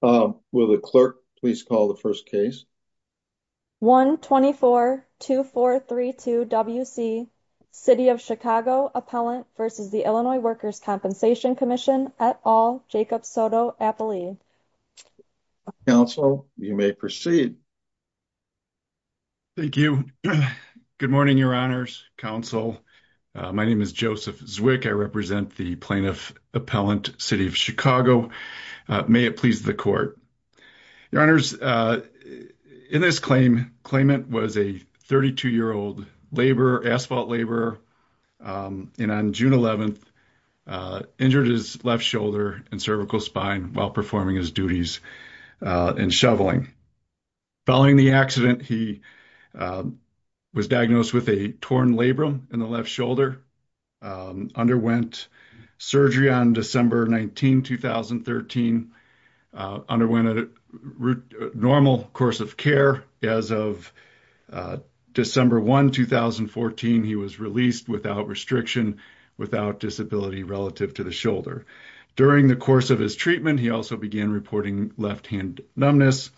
Will the clerk please call the first case? 1-24-2432-WC, City of Chicago Appellant v. Illinois Workers' Compensation Comm'n et al., Jacob Soto-Apolli. Counsel, you may proceed. Thank you. Good morning, Your Honors, Counsel. My name is Joseph Zwick. I represent the plaintiff Appellant, City of Chicago. May it please the Court. Your Honors, in this claim, the claimant was a 32-year-old asphalt laborer and on June 11th injured his left shoulder and cervical spine while performing his duties in shoveling. Following the accident, he was diagnosed with a torn labrum in the left shoulder, and underwent surgery on December 19, 2013. He underwent a normal course of care. As of December 1, 2014, he was released without restriction, without disability relative to the shoulder. During the course of his treatment, he also began reporting left-hand numbness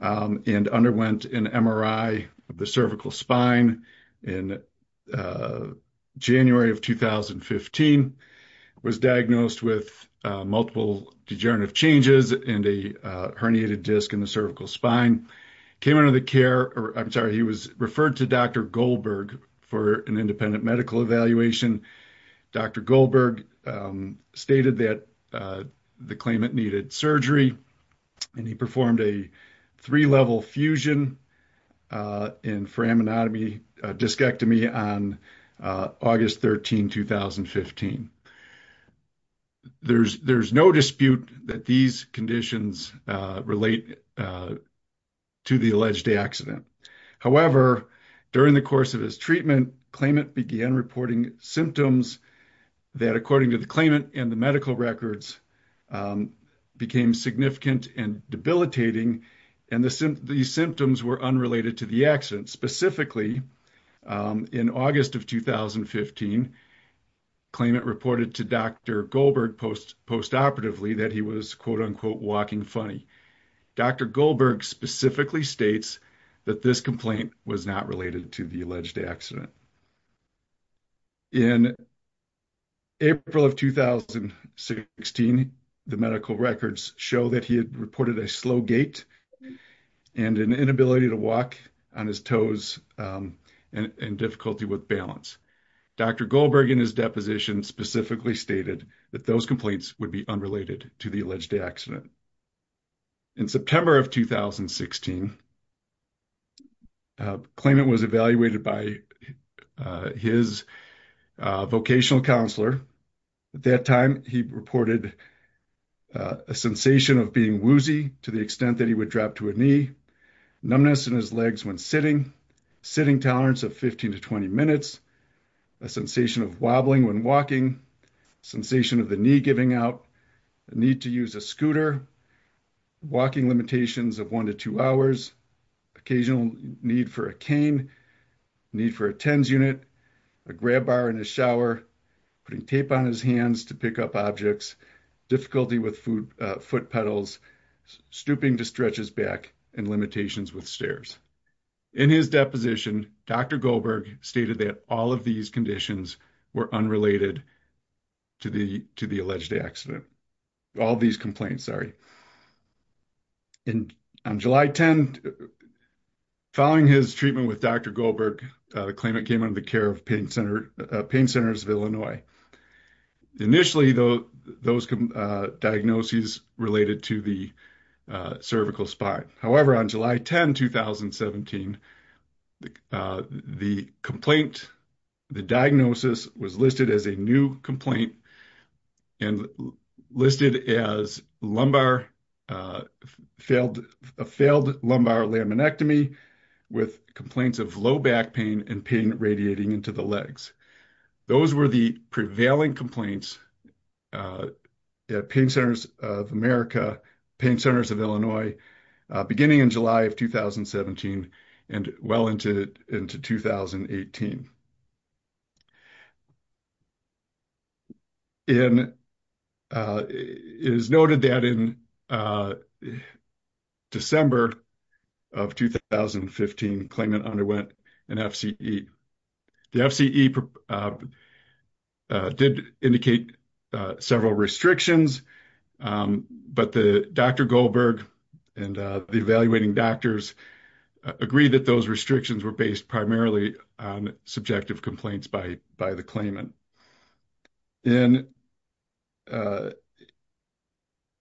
and underwent an MRI of the cervical spine in January of 2015. He was diagnosed with multiple degenerative changes and a herniated disc in the cervical spine. He was referred to Dr. Goldberg for an independent medical evaluation. Dr. Goldberg stated that the claimant underwent surgery and performed a three-level fusion in foraminotomy discectomy on August 13, 2015. There is no dispute that these conditions relate to the alleged accident. However, during the course of his treatment, the claimant began reporting symptoms that, according to the claimant and the medical records, became significant and debilitating. These symptoms were unrelated to the accident. Specifically, in August of 2015, the claimant reported to Dr. Goldberg post-operatively that he was, quote-unquote, walking funny. Dr. Goldberg specifically states that this complaint was not related to the accident. In April of 2016, the medical records show that he had reported a slow gait and an inability to walk on his toes and difficulty with balance. Dr. Goldberg, in his deposition, specifically stated that those complaints would be unrelated to the alleged accident. In September of 2016, the claimant was evaluated by his vocational counselor, at that time he reported a sensation of being woozy to the extent that he would drop to a knee, numbness in his legs when sitting, sitting tolerance of 15 to 20 minutes, a sensation of wobbling when walking, sensation of the knee giving out, need to use a scooter, walking limitations of one to two hours, occasional need for a cane, need for a TENS unit, a grab bar in the shower, putting tape on his hands to pick up objects, difficulty with foot pedals, stooping to stretch his back, and limitations with stairs. In his deposition, Dr. Goldberg stated that all of these conditions were unrelated to the alleged accident. All these complaints, sorry. And on July 10, following his treatment with Dr. Goldberg, the claimant came under the care of Pain Centers of Illinois. Initially, those diagnoses related to the cervical spine. However, on July 10, 2017, the complaint, the diagnosis was listed as a new complaint and listed as a failed lumbar laminectomy with complaints of low back pain and pain radiating into the legs. Those were the prevailing complaints at Pain Centers of America, Pain Centers of Illinois, beginning in July of 2017 and well into 2018. And it is noted that in December of 2015, the claimant underwent an FCE. The FCE did indicate several restrictions, but Dr. Goldberg and the evaluating doctors agreed that those restrictions were based primarily on subjective complaints by the claimant. And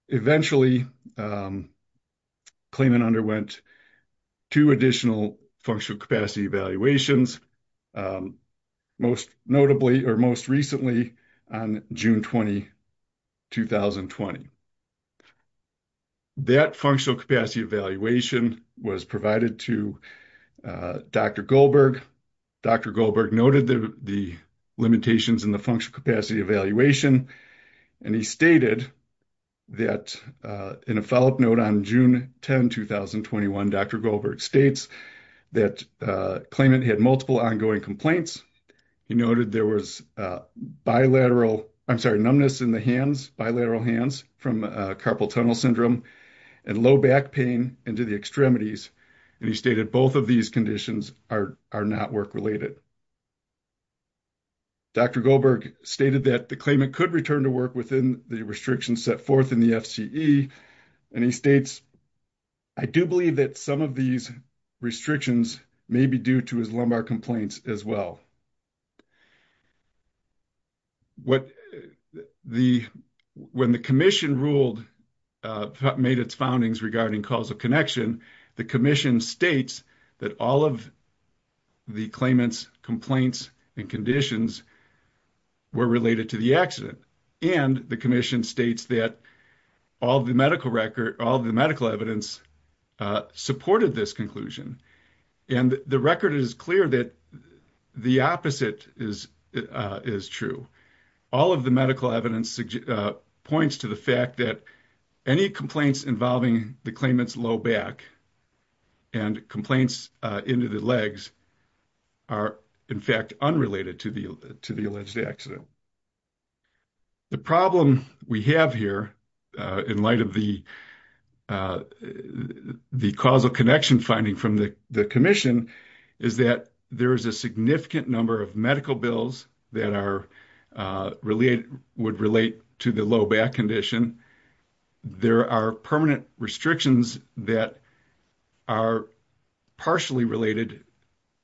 eventually, the claimant underwent two additional functional capacity evaluations, most notably, or most recently, on June 20, 2020. That functional capacity evaluation was provided to Dr. Goldberg. Dr. Goldberg noted the limitations in the functional capacity evaluation. And he stated that in a follow-up note on June 10, 2021, Dr. Goldberg states that the claimant had multiple ongoing complaints. He noted there was bilateral, I'm sorry, numbness in the hands, bilateral hands from carpal tunnel syndrome and low back pain into the extremities. And he stated both of these conditions are not work-related. Dr. Goldberg stated that the claimant could return to work within the restrictions set forth in the FCE. And he states, I do believe that some of these restrictions may be due to his lumbar complaints as well. When the commission ruled, made its findings regarding causal connection, the commission states that all of the claimant's complaints and conditions were related to the accident. And the commission states that all of the medical evidence supported this conclusion. And the record is clear that the opposite is true. All of the medical evidence points to the fact that any complaints involving the claimant's low back and complaints into the legs are, in fact, unrelated to the alleged accident. The problem we have here in light of the causal connection finding from the commission is that there is a significant number of medical bills that are related, would relate to the low back condition. There are permanent restrictions that are partially related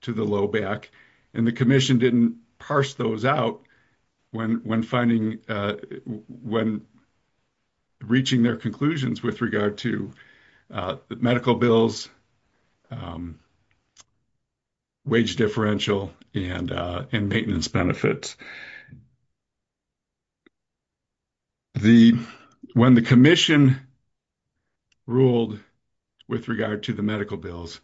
to the low back and the commission didn't parse those out when finding, when reaching their conclusions with regard to the medical bills, wage differential and maintenance benefits. The, when the commission ruled with regard to the medical bills,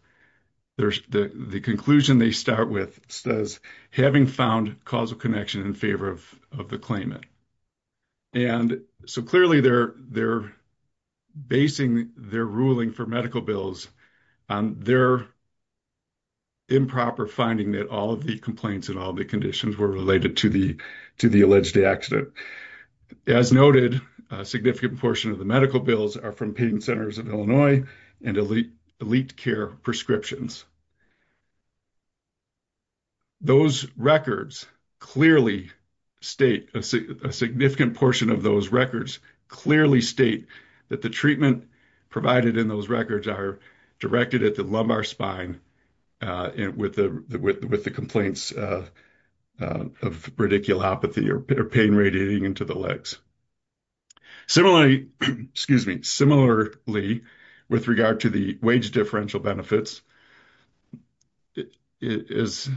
the conclusion they start with says, having found causal connection in favor of the claimant. And so clearly they're basing their ruling for medical bills on their improper finding that all of the complaints and all the conditions were related to the alleged accident. As noted, a significant portion of the medical bills are from pain centers in Illinois and elite care prescriptions. Those records clearly state, a significant portion of those records clearly state that the treatment provided in those records are directed at the lumbar spine with the complaints of radiculopathy or pain radiating into the legs. Similarly, excuse me, similarly with regard to the wage differential benefits, as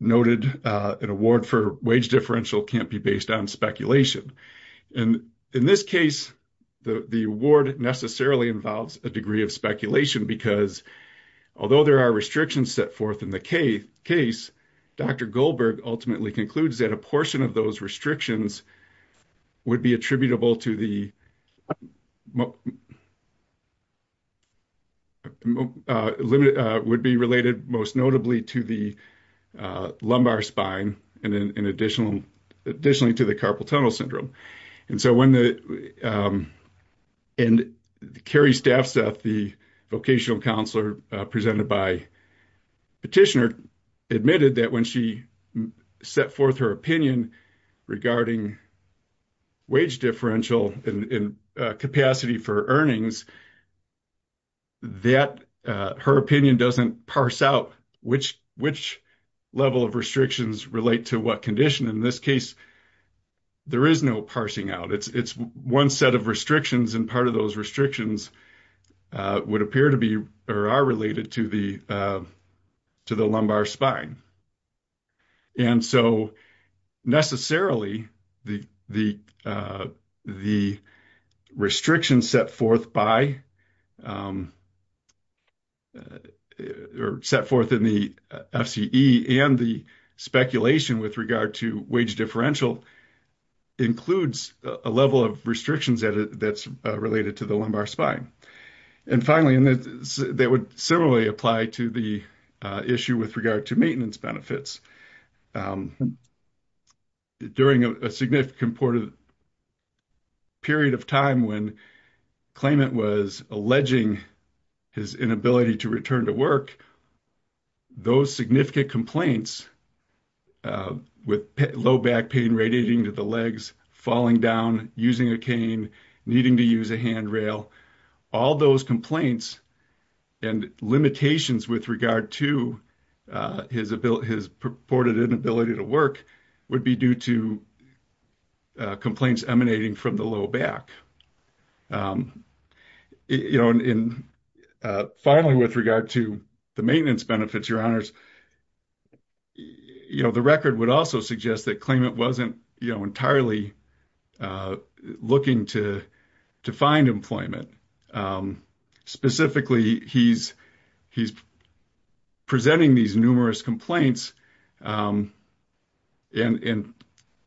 noted, an award for wage differential can't be based on speculation. And in this case, the award necessarily involves a degree of speculation because although there are restrictions set forth in the case, Dr. Goldberg ultimately concludes that a portion of those restrictions would be attributable to the, limited, would be related most notably to the lumbar spine and then an additional, additionally to the carpal tunnel syndrome. And so when the, and Carrie Staffseth, the vocational counselor presented by petitioner, admitted that when she set forth her opinion regarding wage differential and capacity for earnings, that her opinion doesn't parse out which level of restrictions relate to what condition. In this case, there is no parsing out. It's one set of restrictions and part of those restrictions would appear to be, or are related to the lumbar spine. And so necessarily the restrictions set forth by, or set forth in the FCE and the speculation with regard to wage differential includes a level of that's related to the lumbar spine. And finally, that would similarly apply to the issue with regard to maintenance benefits. During a significant period of time when claimant was alleging his inability to return to work, those significant complaints of low back pain radiating to the legs, falling down, using a cane, needing to use a handrail, all those complaints and limitations with regard to his purported inability to work would be due to complaints emanating from the low back. And finally, with regard to the maintenance benefits, your honors, the record would also suggest that claimant wasn't entirely looking to find employment. Specifically, he's presenting these numerous complaints and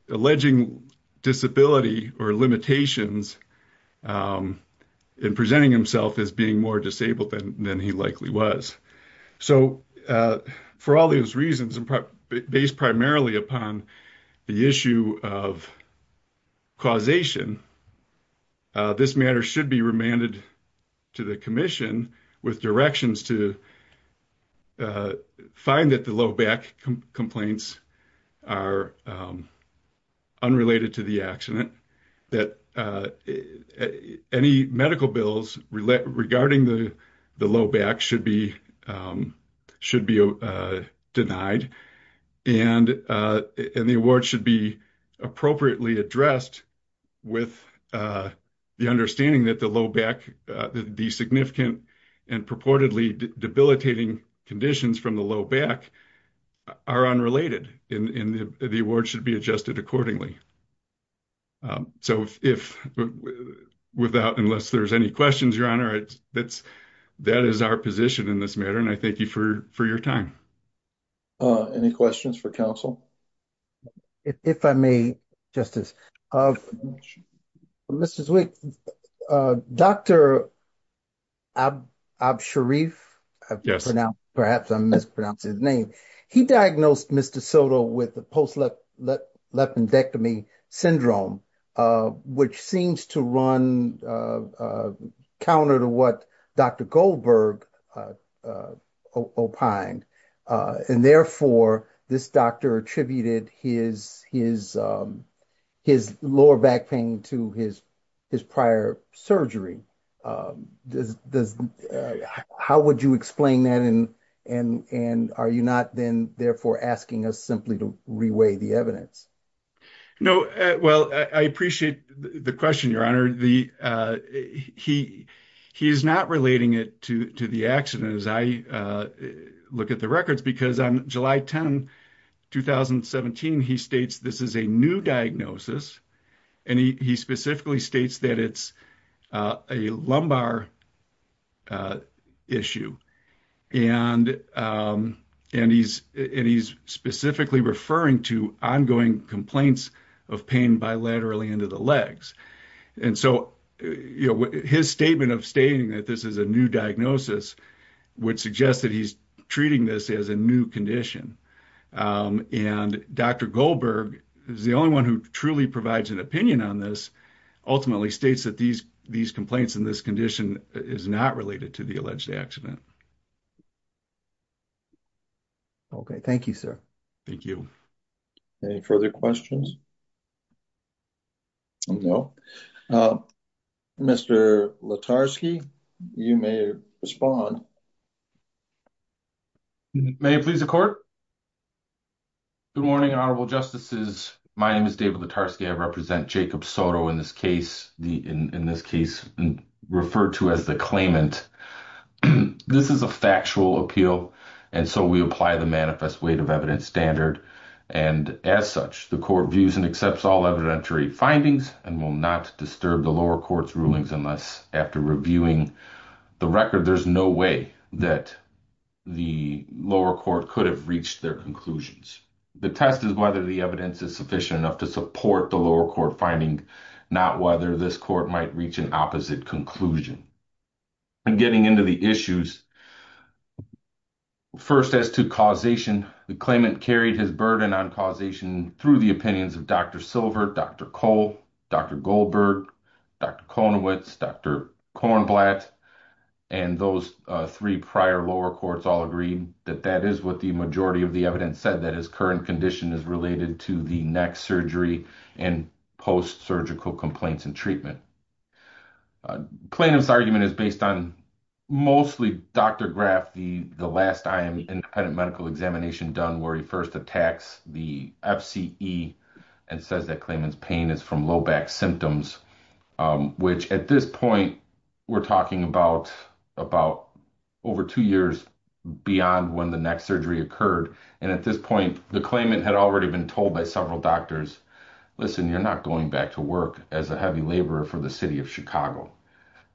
alleging disability or limitations in presenting himself as being more disabled than he likely was. So for all these reasons, based primarily upon the issue of causation, this matter should be remanded to the commission with directions to find that the low back complaints are unrelated to the accident, that any medical bills regarding the low back should be denied, and the award should be appropriately addressed with the understanding that the low conditions from the low back are unrelated and the award should be adjusted accordingly. So unless there's any questions, your honor, that is our position in this matter, and I thank you for your time. Any questions for counsel? If I may, Justice. Mr. Zwick, Dr. Absharif, perhaps I'm mispronouncing his name, he diagnosed Mr. Soto with post-lepidectomy syndrome, which seems to run counter to what Dr. Goldberg opined, and therefore this doctor attributed his lower back pain to his prior surgery. How would you explain that, and are you not then therefore asking us simply to re-weigh the evidence? Well, I appreciate the question, your honor. He's not relating it to the accident as I look at the records, because on July 10, 2017, he states this is a new diagnosis, and he specifically states that it's a lumbar issue, and he's specifically referring to ongoing complaints of pain bilaterally into the legs, and so his statement of stating that this is a new diagnosis would suggest that he's treating this as a new condition, and Dr. Goldberg is the only one who truly provides an opinion on this, ultimately states that these complaints in this condition is not related to the alleged accident. Okay, thank you, sir. Thank you. Any further questions? No. Mr. Letarsky, you may respond. May it please the court? Good morning, honorable justices. My name is David Letarsky. I represent Jacob Soto in this case, referred to as the claimant. This is a factual appeal, and so we apply the manifest weight of evidence standard, and as such, the court views and accepts all evidentiary findings and will not disturb the lower court's rulings unless after reviewing the record, there's no way that the lower court could have reached their conclusions. The test is whether the evidence is sufficient enough to support the lower court finding, not whether this court might reach an opposite conclusion. In getting into the issues, first as to causation, the claimant carried his burden on causation through the opinions of Dr. Silver, Dr. Cole, Dr. Goldberg, Dr. Konowitz, Dr. Kornblatt, and those three prior lower courts all agreed that that is what the majority of the evidence said, that his current condition is related to the next surgery and post-surgical complaints and treatment. The claimant's argument is based on mostly Dr. Graff, the last IM and medical examination done where he first attacks the FCE and says that claimant's pain is from low back symptoms, which at this point, we're talking about over two years beyond when the next surgery occurred, and at this point, the claimant had already been told by several doctors, listen, you're not going back to work as a heavy laborer for the city of Chicago,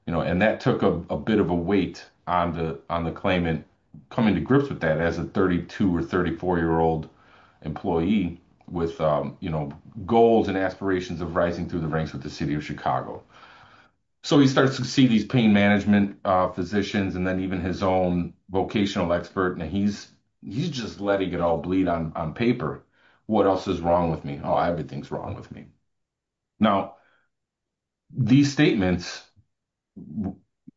and that took a bit of a weight on the claimant coming to grips with that as a 32 or 34-year-old employee with goals and aspirations of rising through the ranks with the city of Chicago. So he starts to see these pain management physicians, and then even his own vocational expert, and he's just letting it all bleed on paper. What else is wrong with me? Oh, everything's wrong with me. Now, these statements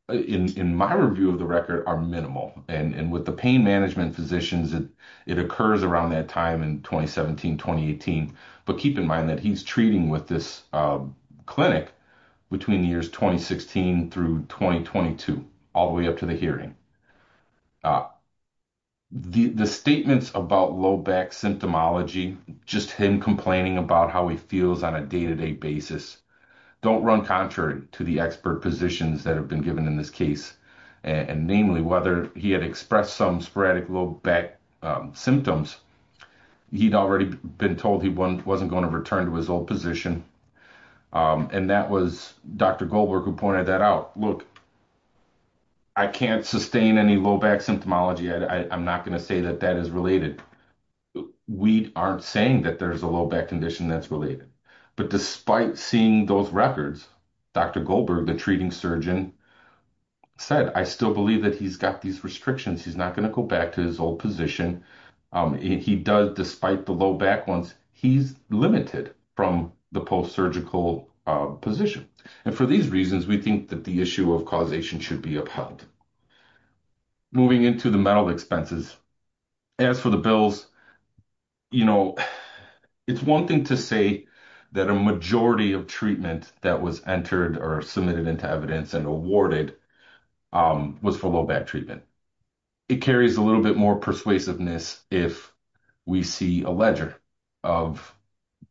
in my review of the record are minimal, and with the pain management physicians, it occurs around that time in 2017, 2018, but keep in mind that he's treating with this clinic between the years 2016 through 2022, all the way up to the hearing. The statements about low back symptomology, just him complaining about how he feels on a day-to-day basis, don't run contrary to the expert positions that have been given in this case, and namely whether he had expressed some sporadic low back symptoms. He'd already been told he wasn't going to return to his old position, and that was Dr. Goldberg who pointed that out. Look, I can't sustain any low back symptomology. I'm not going to say that that is related. We aren't saying that there's a low back condition that's related, but despite seeing those records, Dr. Goldberg, the treating surgeon, said, I still believe that he's got these restrictions. He's not going to go back to his old position. He does, despite the low back ones, he's limited from the post-surgical position, and for these reasons, we think that the issue of causation should be upheld. Moving into the mental expenses, as for the bills, it's one thing to say that a majority of treatment that was entered or submitted into evidence and awarded was for low back treatment. It carries a little bit more persuasiveness if we see a ledger of,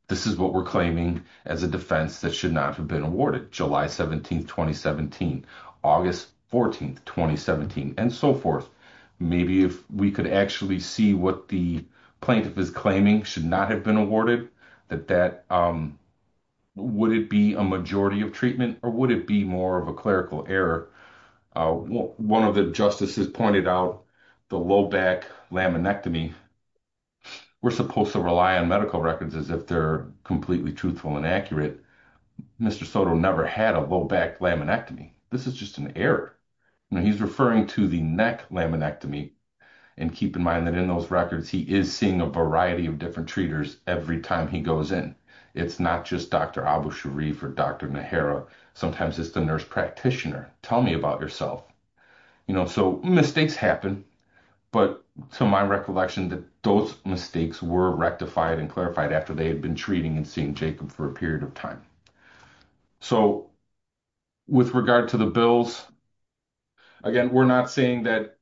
this is what we're claiming as a defense that should not have been awarded, July 17th, 2017, August 14th, 2017, and so forth. Maybe if we could actually see what the plaintiff is claiming should not have been awarded, would it be a majority of treatment or would it be more of a clerical error? One of the justices pointed out the low back laminectomy, we're supposed to rely on medical and accurate. Mr. Soto never had a low back laminectomy. This is just an error. He's referring to the neck laminectomy, and keep in mind that in those records, he is seeing a variety of different treaters every time he goes in. It's not just Dr. Abu Sharif or Dr. Nehara, sometimes it's the nurse practitioner. Tell me about yourself. Mistakes happen, but to my recollection, those mistakes were rectified and clarified after they had been treating and seeing Jacob for a period of time. With regard to the bills, again, we're not saying that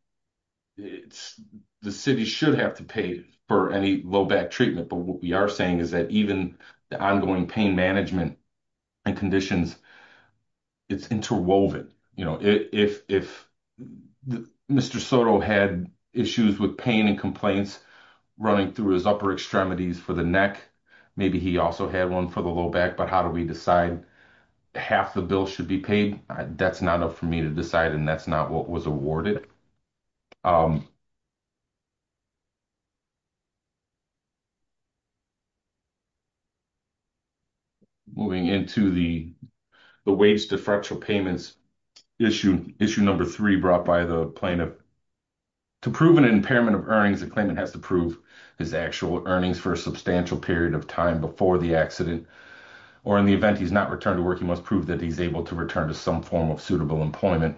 the city should have to pay for any low back treatment, but what we are saying is that even the ongoing pain management and conditions, it's interwoven. If Mr. Soto had issues with pain and running through his upper extremities for the neck, maybe he also had one for the low back, but how do we decide half the bill should be paid? That's not up for me to decide, and that's not what was awarded. Moving into the wage deferential payments issue, issue number three brought by the plaintiff. To prove an impairment of earnings, the claimant has to prove his actual earnings for a substantial period of time before the accident, or in the event he's not returned to work, he must prove that he's able to return to some form of suitable employment.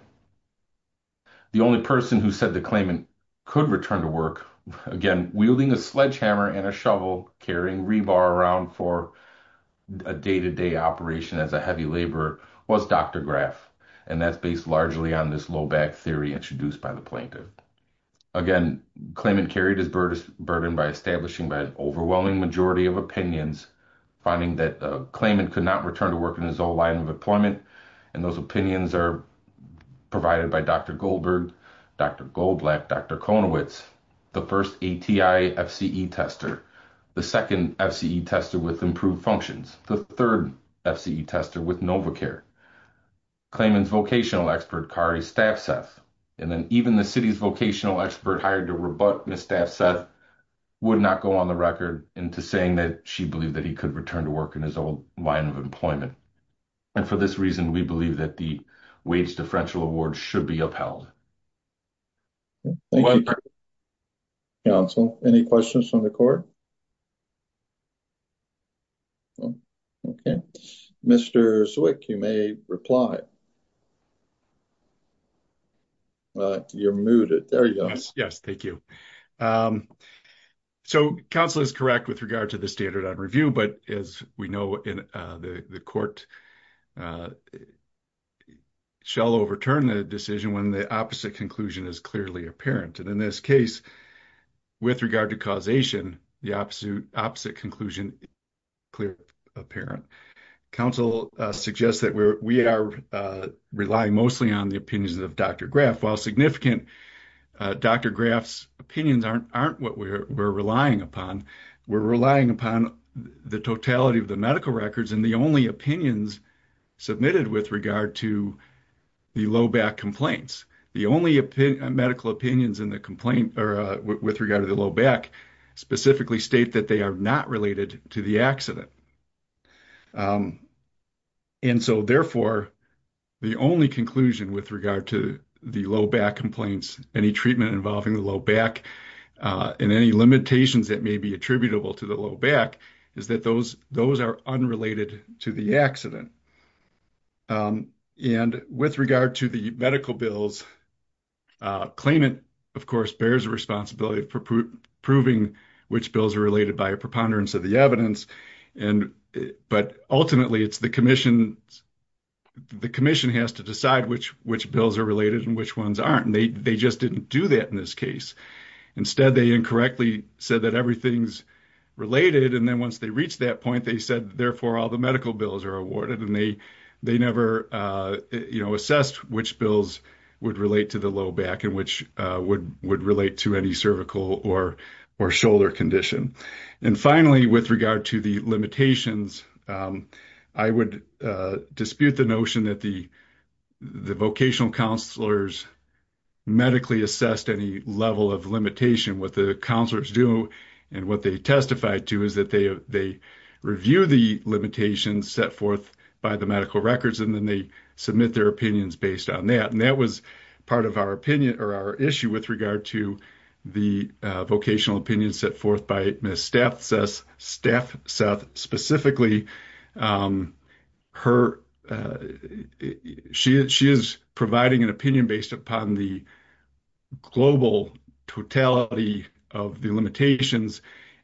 The only person who said the claimant could return to work, again, wielding a sledgehammer and a shovel, carrying rebar around for a day-to-day operation as a heavy laborer, was Dr. Graf, and that's based largely on this low back theory introduced by the plaintiff. Again, the claimant carried his burden by establishing an overwhelming majority of opinions, finding that the claimant could not return to work in his own line of employment, and those opinions are provided by Dr. Goldberg, Dr. Goldblatt, Dr. Konowitz, the first ATI FCE tester, the second FCE tester with improved functions, the third FCE tester with Novacare, claimant's vocational expert, Kari Staffseth, and then even the city's vocational expert hired to rebut Ms. Staffseth would not go on the record into saying that she believed that he could return to work in his own line of employment, and for this reason, we believe that the wage differential award should be upheld. Thank you, counsel. Any questions from the court? Okay. Mr. Zwick, you may reply. You're muted. There you go. Yes, thank you. So, counsel is correct with regard to the standard on review, but as we know, the court shall overturn the decision when the opposite conclusion is clearly apparent, and in this case, with regard to causation, the opposite conclusion is clearly apparent. Counsel suggests that we are relying mostly on the opinions of Dr. Graff. While significant, Dr. Graff's opinions aren't what we're relying upon. We're relying upon the totality of the medical records and the only opinions submitted with regard to the low back complaints. The only medical opinions with regard to the low back specifically state that they are not related to the accident, and so, therefore, the only conclusion with regard to the low back complaints, any treatment involving the low back, and any limitations that may be attributable to the low back is that those are unrelated to the accident, and with regard to the medical bills, claimant, of course, bears the responsibility for proving which bills are related by a and ultimately, it's the commission. The commission has to decide which bills are related and which ones aren't, and they just didn't do that in this case. Instead, they incorrectly said that everything's related, and then once they reach that point, they said, therefore, all the medical bills are awarded, and they never assessed which bills would relate to the low back and which would relate to any cervical or shoulder condition, and finally, with regard to the limitations, I would dispute the notion that the vocational counselors medically assessed any level of limitation. What the counselors do and what they testify to is that they review the limitations set forth by the medical records, and then they submit their opinions based on that, and that was part of our opinion or our issue with regard to the vocational opinion set forth by Ms. Staffseth specifically. She is providing an opinion based upon the global totality of the limitations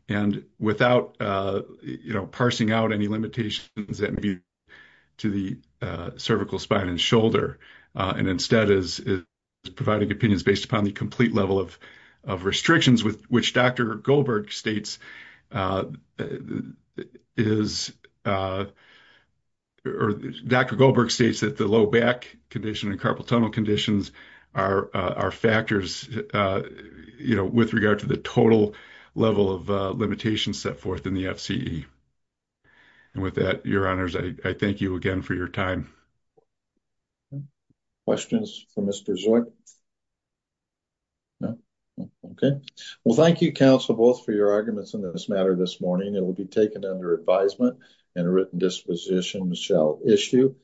and without parsing out any limitations that may be to the cervical spine and shoulder, and instead is providing opinions based upon the complete level of restrictions, which Dr. Goldberg states that the low back condition and carpal tunnel conditions are factors with regard to the total level of limitations set forth in the FCE, and with that, your honors, I thank you again for your time. Well, thank you, counsel, both for your arguments on this matter this morning. It will be taken under advisement, and a written disposition shall issue.